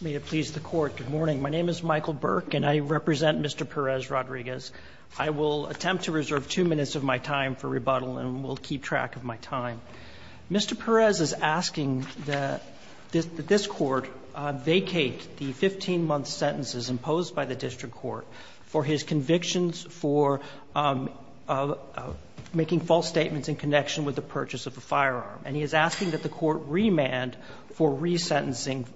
May it please the Court, good morning. My name is Michael Burke, and I represent Mr. Perez-Rodriguez. I will attempt to reserve two minutes of my time for rebuttal, and will keep track of my time. Mr. Perez is asking that this Court vacate the 15-month sentences imposed by the district court for his convictions for making false statements in connection with the purchase of the firearm. And he is asking that the Court remand for resentencing.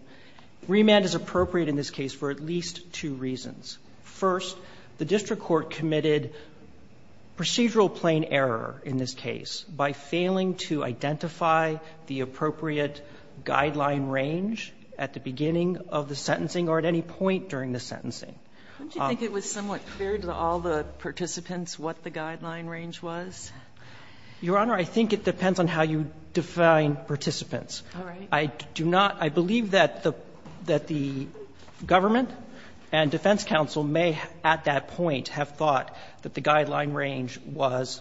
Remand is appropriate in this case for at least two reasons. First, the district court committed procedural plain error in this case by failing to identify the appropriate guideline range at the beginning of the sentencing or at any point during the sentencing. Sotomayor, did you think it was somewhat clear to all the participants what the guideline range was? Your Honor, I think it depends on how you define participants. I do not – I believe that the government and defense counsel may, at that point, have thought that the guideline range was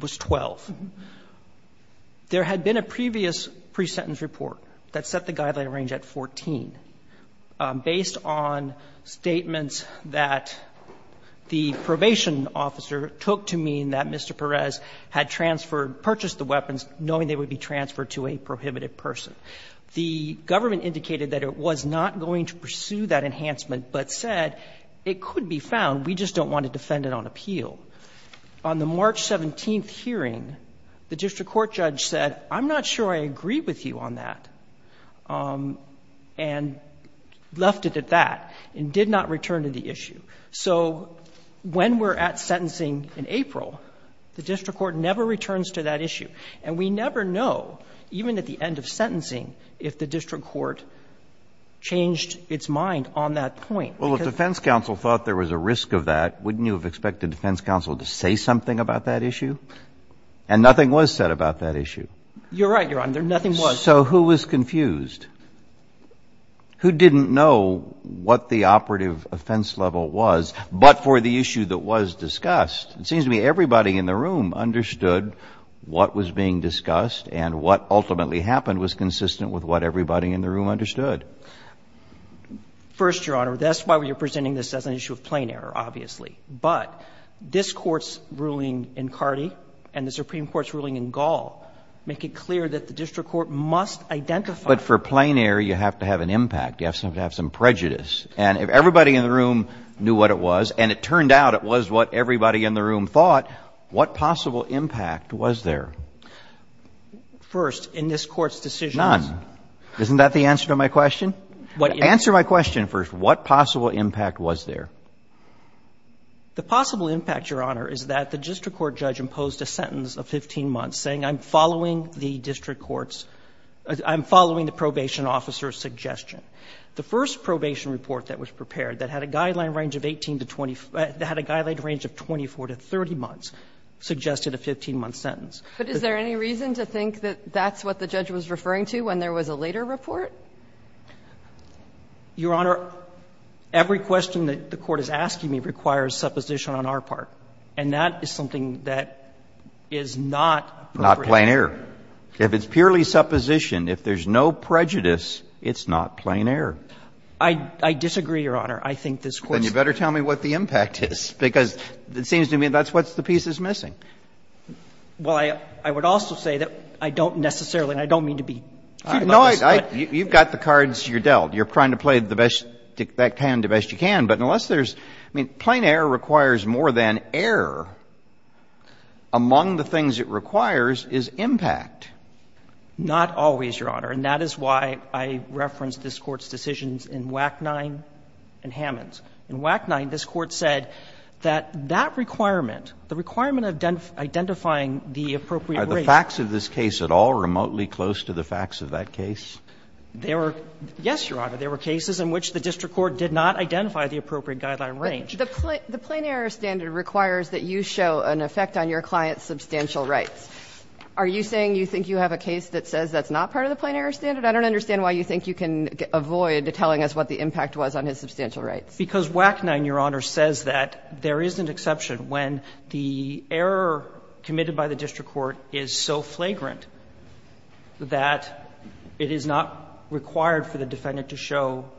12. There had been a previous pre-sentence report that set the guideline range at 14. Based on statements that the probation officer took to mean that Mr. Perez had transferred – purchased the weapons knowing they would be transferred to a prohibited person. The government indicated that it was not going to pursue that enhancement, but said it could be found, we just don't want to defend it on appeal. On the March 17th hearing, the district court judge said, I'm not sure I agree with you on that. And left it at that, and did not return to the issue. So when we're at sentencing in April, the district court never returns to that issue. And we never know, even at the end of sentencing, if the district court changed its mind on that point. Well, if defense counsel thought there was a risk of that, wouldn't you have expected defense counsel to say something about that issue? And nothing was said about that issue. You're right, Your Honor. Nothing was. So who was confused? Who didn't know what the operative offense level was, but for the issue that was discussed? It seems to me everybody in the room understood what was being discussed, and what ultimately happened was consistent with what everybody in the room understood. First, Your Honor, that's why we're presenting this as an issue of plain error, obviously. But this Court's ruling in Cardi and the Supreme Court's ruling in Gall make it clear that the district court must identify. But for plain error, you have to have an impact. You have to have some prejudice. And if everybody in the room knew what it was, and it turned out it was what everybody in the room thought, what possible impact was there? First, in this Court's decision to do so. None. Isn't that the answer to my question? Answer my question first. What possible impact was there? The possible impact, Your Honor, is that the district court judge imposed a sentence of 15 months, saying I'm following the district court's – I'm following the probation officer's suggestion. The first probation report that was prepared that had a guideline range of 18 to 20 – that had a guideline range of 24 to 30 months, suggested a 15-month sentence. But is there any reason to think that that's what the judge was referring to when there was a later report? Your Honor, every question that the Court is asking me requires supposition on our part. And that is something that is not appropriate. Not plain error. If it's purely supposition, if there's no prejudice, it's not plain error. I disagree, Your Honor. I think this Court's – Then you better tell me what the impact is, because it seems to me that's what the piece is missing. Well, I would also say that I don't necessarily, and I don't mean to be – No, I – you've got the cards, you're dealt. You're trying to play the best that you can, the best you can. But unless there's – I mean, plain error requires more than error. Among the things it requires is impact. Not always, Your Honor. And that is why I referenced this Court's decisions in WAC 9 and Hammonds. In WAC 9, this Court said that that requirement, the requirement of identifying the appropriate rate – Are the facts of this case at all remotely close to the facts of that case? There were – yes, Your Honor. There were cases in which the district court did not identify the appropriate guideline range. But the plain error standard requires that you show an effect on your client's substantial rights. Are you saying you think you have a case that says that's not part of the plain error standard? I don't understand why you think you can avoid telling us what the impact was on his substantial rights. Because WAC 9, Your Honor, says that there is an exception when the error committed by the district court is so flagrant that it is not required for the defendant to show that there is an exception.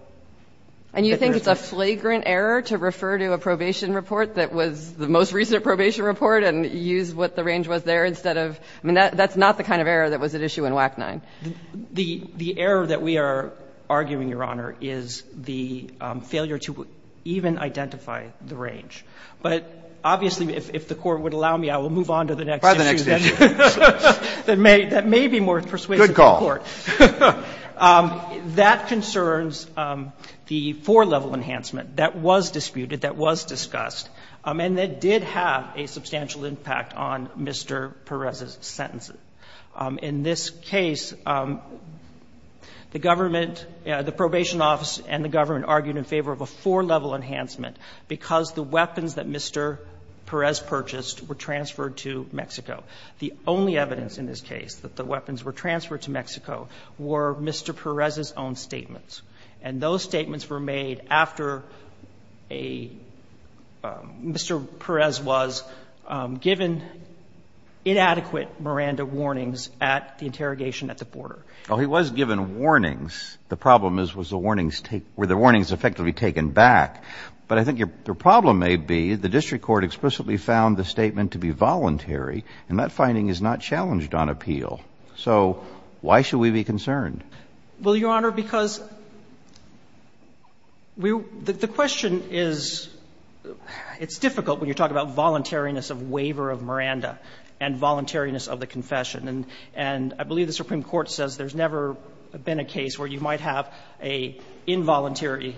And you think it's a flagrant error to refer to a probation report that was the most recent probation report and use what the range was there instead of – I mean, that's not the kind of error that was at issue in WAC 9. The error that we are arguing, Your Honor, is the failure to even identify the range. But obviously, if the Court would allow me, I will move on to the next issue. By the next issue. That may be more persuasive for the Court. Good call. That concerns the four-level enhancement that was disputed, that was discussed, and that did have a substantial impact on Mr. Perez's sentences. In this case, the government, the probation office and the government argued in favor of a four-level enhancement because the weapons that Mr. Perez purchased were transferred to Mexico. The only evidence in this case that the weapons were transferred to Mexico were Mr. Perez's own statements, and those statements were made after a – Mr. Perez was given inadequate Miranda warnings at the interrogation at the border. Well, he was given warnings. The problem is, was the warnings – were the warnings effectively taken back. But I think the problem may be the district court explicitly found the statement to be voluntary, and that finding is not challenged on appeal. So why should we be concerned? Well, Your Honor, because we – the question is – it's difficult when you talk about voluntariness of waiver of Miranda and voluntariness of the confession, and I believe the Supreme Court says there's never been a case where you might have an involuntary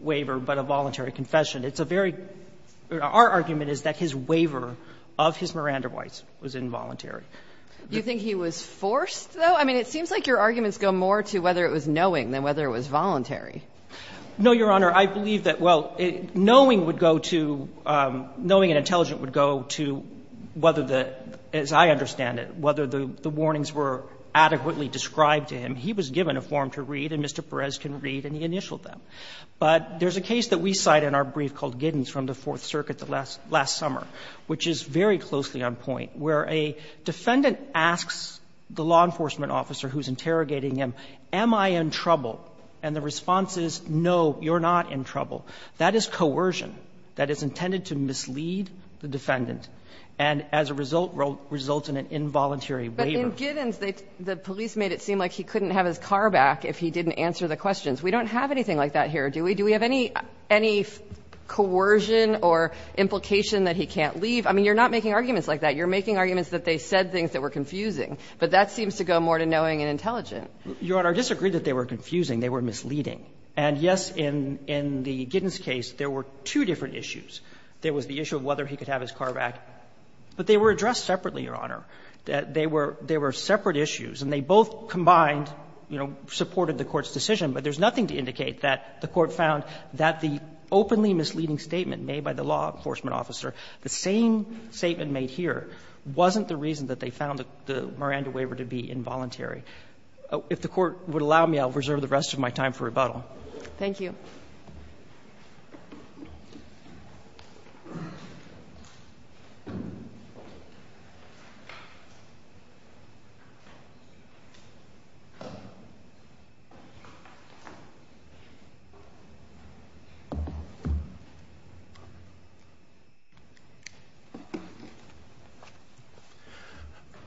waiver but a voluntary confession. It's a very – our argument is that his waiver of his Miranda rights was involuntary. Do you think he was forced, though? I mean, it seems like your arguments go more to whether it was knowing than whether it was voluntary. No, Your Honor. I believe that, well, knowing would go to – knowing and intelligent would go to whether the – as I understand it, whether the warnings were adequately described to him. He was given a form to read, and Mr. Perez can read, and he initialed them. But there's a case that we cite in our brief called Giddens from the Fourth Circuit last summer, which is very closely on point, where a defendant asks the law enforcement officer who's interrogating him, am I in trouble? And the response is, no, you're not in trouble. That is coercion. That is intended to mislead the defendant and, as a result, results in an involuntary waiver. But in Giddens, the police made it seem like he couldn't have his car back if he didn't answer the questions. We don't have anything like that here, do we? Do we have any – any coercion or implication that he can't leave? I mean, you're not making arguments like that. You're making arguments that they said things that were confusing. But that seems to go more to knowing and intelligent. Your Honor, I disagree that they were confusing. They were misleading. And, yes, in the Giddens case, there were two different issues. There was the issue of whether he could have his car back. But they were addressed separately, Your Honor. They were separate issues, and they both combined, you know, supported the Court's decision. But there's nothing to indicate that the Court found that the openly misleading statement made by the law enforcement officer, the same statement made here, wasn't the reason that they found the Miranda waiver to be involuntary. If the Court would allow me, I'll reserve the rest of my time for rebuttal. Thank you.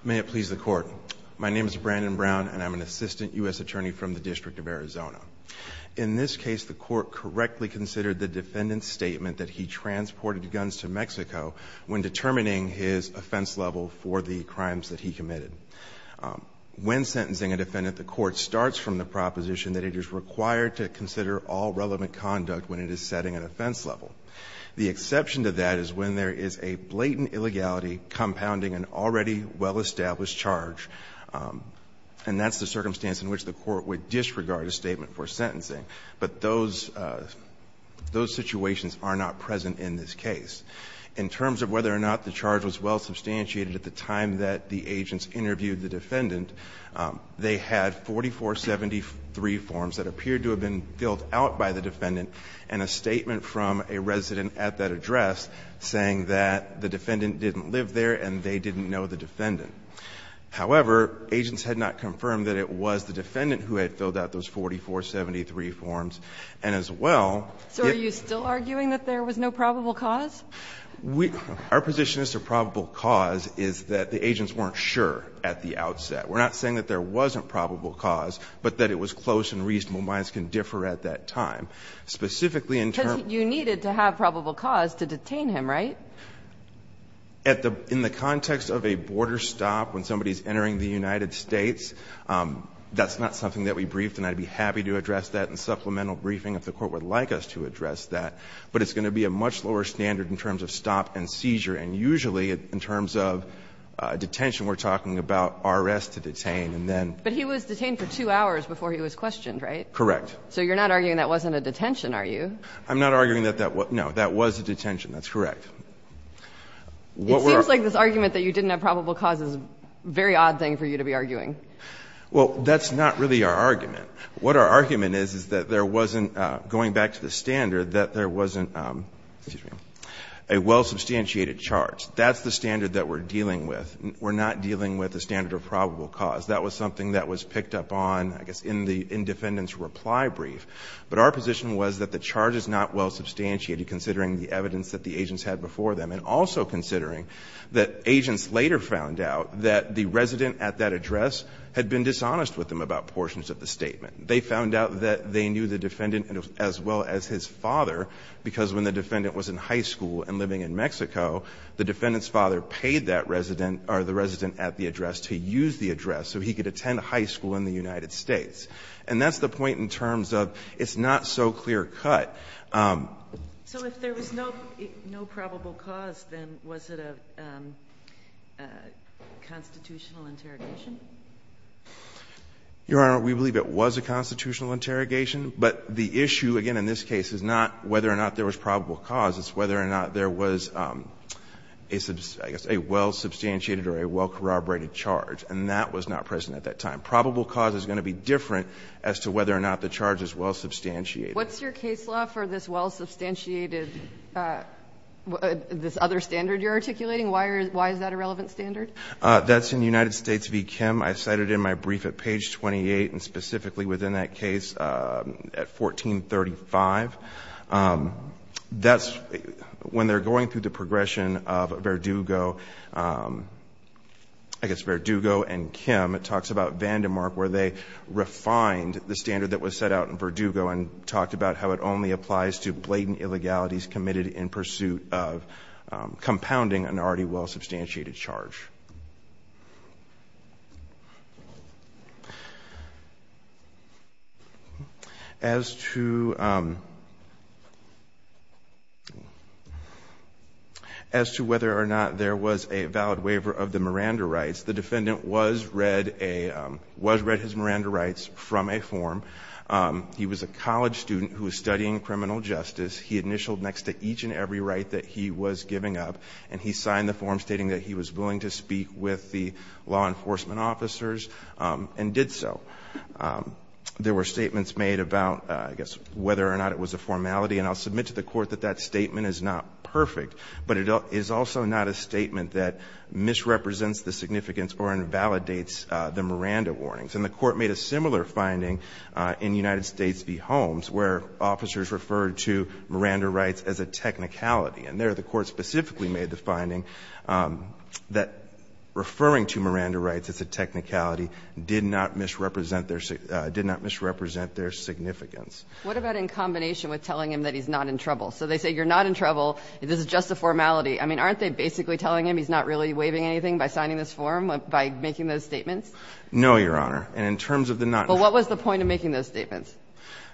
May it please the Court. My name is Brandon Brown, and I'm an assistant U.S. attorney from the District of Arizona. In this case, the Court correctly considered the defendant's statement that he transported guns to Mexico when determining his offense level for the crimes that he committed. When sentencing a defendant, the Court starts from the proposition that it is required to consider all relevant conduct when it is setting an offense level. The exception to that is when there is a blatant illegality compounding an already well-established charge, and that's the circumstance in which the Court would disregard a statement for sentencing. But those situations are not present in this case. In terms of whether or not the charge was well substantiated at the time that the agents interviewed the defendant, they had 4473 forms that appeared to have been filled out by the defendant and a statement from a resident at that address saying that the defendant didn't live there and they didn't know the defendant. However, agents had not confirmed that it was the defendant who had filled out those 4473 forms. And as well the ---- So are you still arguing that there was no probable cause? We ---- our position as to probable cause is that the agents weren't sure at the outset. We're not saying that there wasn't probable cause, but that it was close and reasonable minds can differ at that time. Specifically, in terms of ---- Because you needed to have probable cause to detain him, right? At the ---- in the context of a border stop, when somebody is entering the United States, that's not something that we briefed, and I'd be happy to address that in supplemental briefing if the Court would like us to address that, but it's going to be a much lower standard in terms of stop and seizure, and usually, in terms of detention, we're talking about R.S. to detain, and then ---- But he was detained for two hours before he was questioned, right? Correct. So you're not arguing that wasn't a detention, are you? I'm not arguing that that was ---- It seems like this argument that you didn't have probable cause is a very odd thing for you to be arguing. Well, that's not really our argument. What our argument is is that there wasn't, going back to the standard, that there wasn't a well-substantiated charge. That's the standard that we're dealing with. We're not dealing with a standard of probable cause. That was something that was picked up on, I guess, in the defendant's reply brief. But our position was that the charge is not well-substantiated, considering the evidence that the agents had before them, and also considering that agents later found out that the resident at that address had been dishonest with them about portions of the statement. They found out that they knew the defendant as well as his father, because when the defendant was in high school and living in Mexico, the defendant's father paid that resident, or the resident at the address, to use the address so he could attend high school in the United States. And that's the point in terms of it's not so clear-cut. So if there was no probable cause, then was it a constitutional interrogation? Your Honor, we believe it was a constitutional interrogation. But the issue, again, in this case is not whether or not there was probable cause. It's whether or not there was a well-substantiated or a well-corroborated charge. And that was not present at that time. Probable cause is going to be different as to whether or not the charge is well-substantiated. What's your case law for this well-substantiated, this other standard you're articulating? Why is that a relevant standard? That's in United States v. Kim. I cited it in my brief at page 28, and specifically within that case at 1435. That's when they're going through the progression of Verdugo. I guess Verdugo and Kim. It talks about Vandermark, where they refined the standard that was set out in Verdugo and talked about how it only applies to blatant illegalities committed in pursuit of compounding an already well-substantiated charge. As to whether or not there was a valid waiver of the Miranda rights, the defendant was read his Miranda rights from a form. He was a college student who was studying criminal justice. He initialed next to each and every right that he was giving up, and he signed the form stating that he was willing to speak with the law enforcement officers and did so. There were statements made about, I guess, whether or not it was a formality. And I'll submit to the Court that that statement is not perfect, but it is also not a statement that misrepresents the significance or invalidates the Miranda warnings. And the Court made a similar finding in United States v. Holmes, where officers referred to Miranda rights as a technicality. And there the Court specifically made the finding that referring to Miranda rights as a technicality did not misrepresent their significance. What about in combination with telling him that he's not in trouble? So they say you're not in trouble, this is just a formality. I mean, aren't they basically telling him he's not really waiving anything by signing this form, by making those statements? No, Your Honor. And in terms of the not true. But what was the point of making those statements?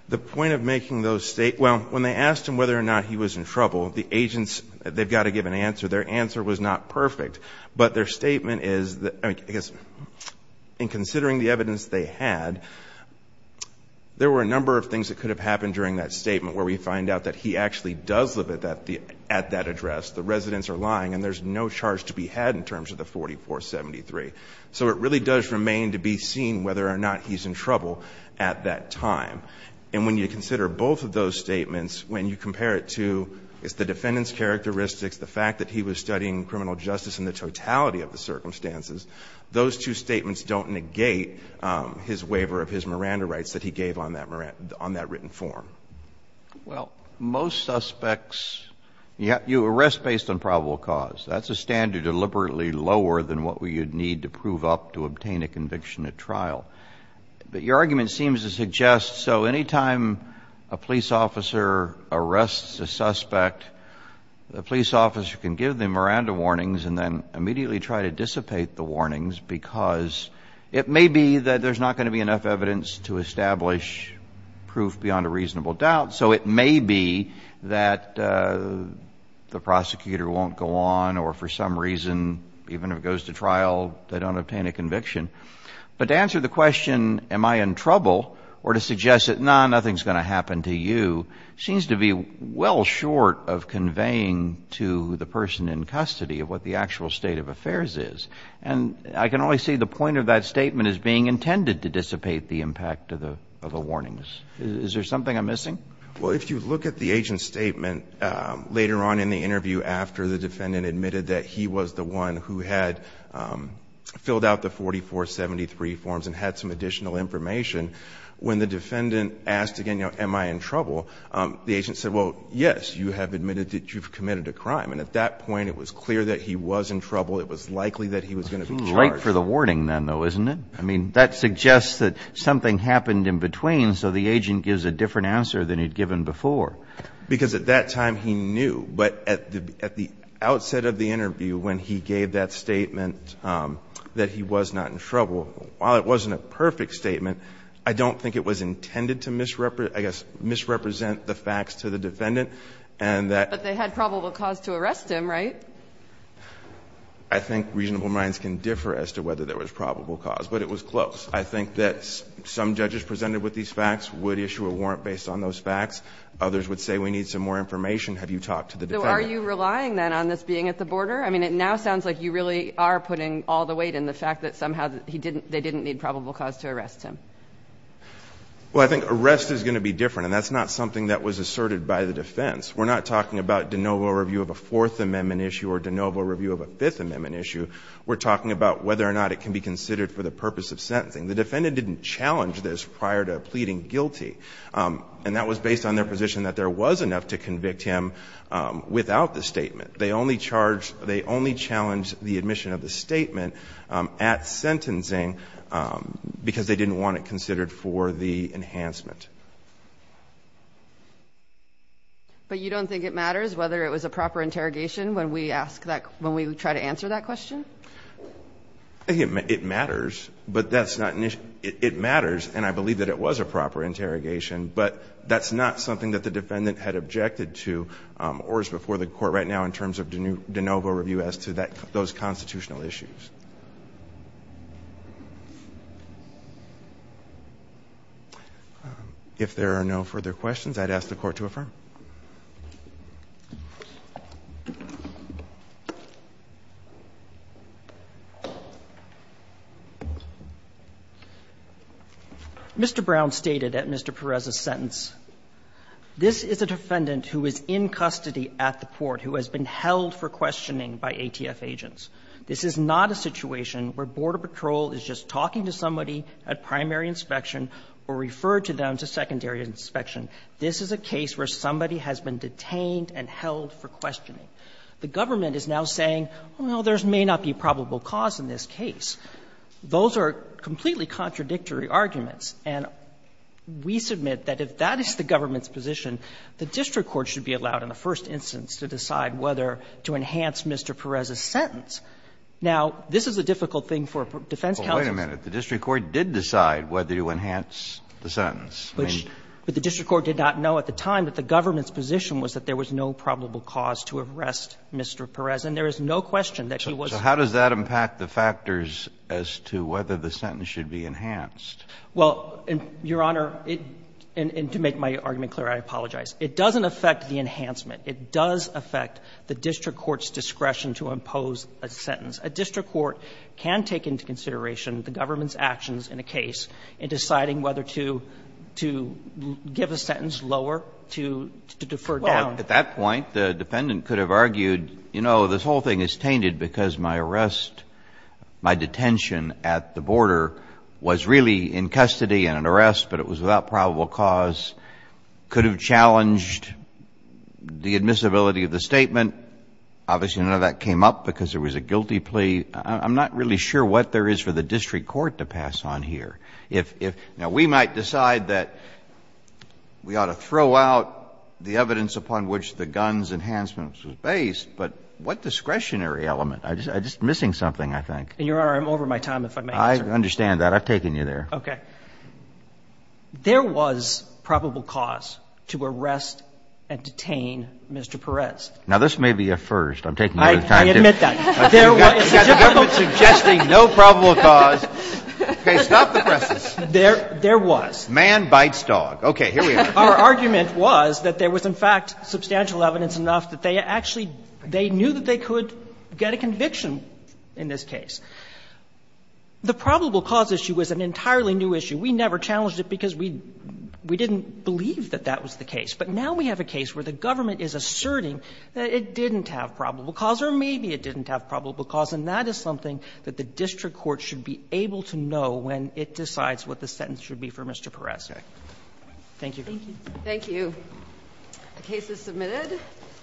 The point of making those statements, well, when they asked him whether or not he was in trouble, the agents, they've got to give an answer. Their answer was not perfect. But their statement is, I guess, in considering the evidence they had, there were a number of things that could have happened during that statement where we find out that he actually does live at that address, the residents are lying, and there's no charge to be had in terms of the 4473. So it really does remain to be seen whether or not he's in trouble at that time. And when you consider both of those statements, when you compare it to the defendant's characteristics, the fact that he was studying criminal justice in the totality of the circumstances, those two statements don't negate his waiver of his Miranda rights that he gave on that written form. Well, most suspects you arrest based on probable cause. That's a standard deliberately lower than what we would need to prove up to obtain a conviction at trial. But your argument seems to suggest so anytime a police officer arrests a suspect, the police officer can give the Miranda warnings and then immediately try to dissipate the warnings because it may be that there's not going to be enough evidence to establish proof beyond a reasonable doubt. So it may be that the prosecutor won't go on or for some reason, even if it goes to trial, they don't obtain a conviction. But to answer the question, am I in trouble, or to suggest that, no, nothing's going to happen to you, seems to be well short of conveying to the person in custody of what the actual state of affairs is. And I can only see the point of that statement as being intended to dissipate the impact of the warnings. Is there something I'm missing? Well, if you look at the agent's statement later on in the interview after the defendant admitted that he was the one who had filled out the 4473 forms and had some additional information, when the defendant asked again, you know, am I in trouble, the agent said, well, yes, you have admitted that you've committed a crime. And at that point, it was clear that he was in trouble. It was likely that he was going to be charged. It's too late for the warning then, though, isn't it? I mean, that suggests that something happened in between, so the agent gives a different answer than he'd given before. Because at that time, he knew. But at the outset of the interview when he gave that statement that he was not in trouble, while it wasn't a perfect statement, I don't think it was intended to misrepresent the facts to the defendant. But they had probable cause to arrest him, right? I think reasonable minds can differ as to whether there was probable cause. But it was close. I think that some judges presented with these facts would issue a warrant based on those facts. Others would say we need some more information. Have you talked to the defendant? So are you relying, then, on this being at the border? I mean, it now sounds like you really are putting all the weight in the fact that somehow he didn't they didn't need probable cause to arrest him. Well, I think arrest is going to be different, and that's not something that was asserted by the defense. We're not talking about de novo review of a Fourth Amendment issue or de novo review of a Fifth Amendment issue. We're talking about whether or not it can be considered for the purpose of sentencing. The defendant didn't challenge this prior to pleading guilty. And that was based on their position that there was enough to convict him without the statement. They only charged they only challenged the admission of the statement at sentencing because they didn't want it considered for the enhancement. But you don't think it matters whether it was a proper interrogation when we ask that when we try to answer that question? It matters, but that's not an issue. It matters, and I believe that it was a proper interrogation, but that's not something that the defendant had objected to or is before the court right now in terms of de novo review as to that those constitutional issues. If there are no further questions, I'd ask the court to affirm. Mr. Brown stated at Mr. Perez's sentence, this is a defendant who is in custody at the port who has been held for questioning by ATF agents. This is not a situation where Border Patrol is just talking to somebody at primary inspection or referred to them to secondary inspection. This is a situation where somebody has been detained and held for questioning. The government is now saying, well, there may not be probable cause in this case. Those are completely contradictory arguments, and we submit that if that is the government's position, the district court should be allowed in the first instance to decide whether to enhance Mr. Perez's sentence. Now, this is a difficult thing for defense counsels to do. Kennedy, but the district court did not know at the time that the government was that there was no probable cause to arrest Mr. Perez, and there is no question that he was. So how does that impact the factors as to whether the sentence should be enhanced? Well, Your Honor, and to make my argument clear, I apologize. It doesn't affect the enhancement. It does affect the district court's discretion to impose a sentence. A district court can take into consideration the government's actions in a case in which there is no probable cause to arrest Mr. Perez, and there is no question that the district court should be allowed in the first instance to decide whether to enhance Mr. Perez's sentence. So I'm not sure that the district court should be allowed in the first instance to decide whether or not to enhance Mr. Perez's sentence. Mr. Boutrous, I would like to know the evidence upon which the gun's enhancement was based, but what discretionary element? I'm just missing something, I think. And, Your Honor, I'm over my time. If I may answer. I understand that. I've taken you there. Okay. There was probable cause to arrest and detain Mr. Perez. Now, this may be a first. I'm taking my time to do it. I admit that. There was a judgmental. You've got the government suggesting no probable cause. Okay. Stop the presses. There was. Man bites dog. Okay. Here we are. Our argument was that there was, in fact, substantial evidence enough that they actually they knew that they could get a conviction in this case. The probable cause issue was an entirely new issue. We never challenged it because we didn't believe that that was the case. But now we have a case where the government is asserting that it didn't have probable cause or maybe it didn't have probable cause, and that is something that the district court should be able to know when it decides what the sentence should be for Mr. Perez. Thank you. Thank you. The case is submitted.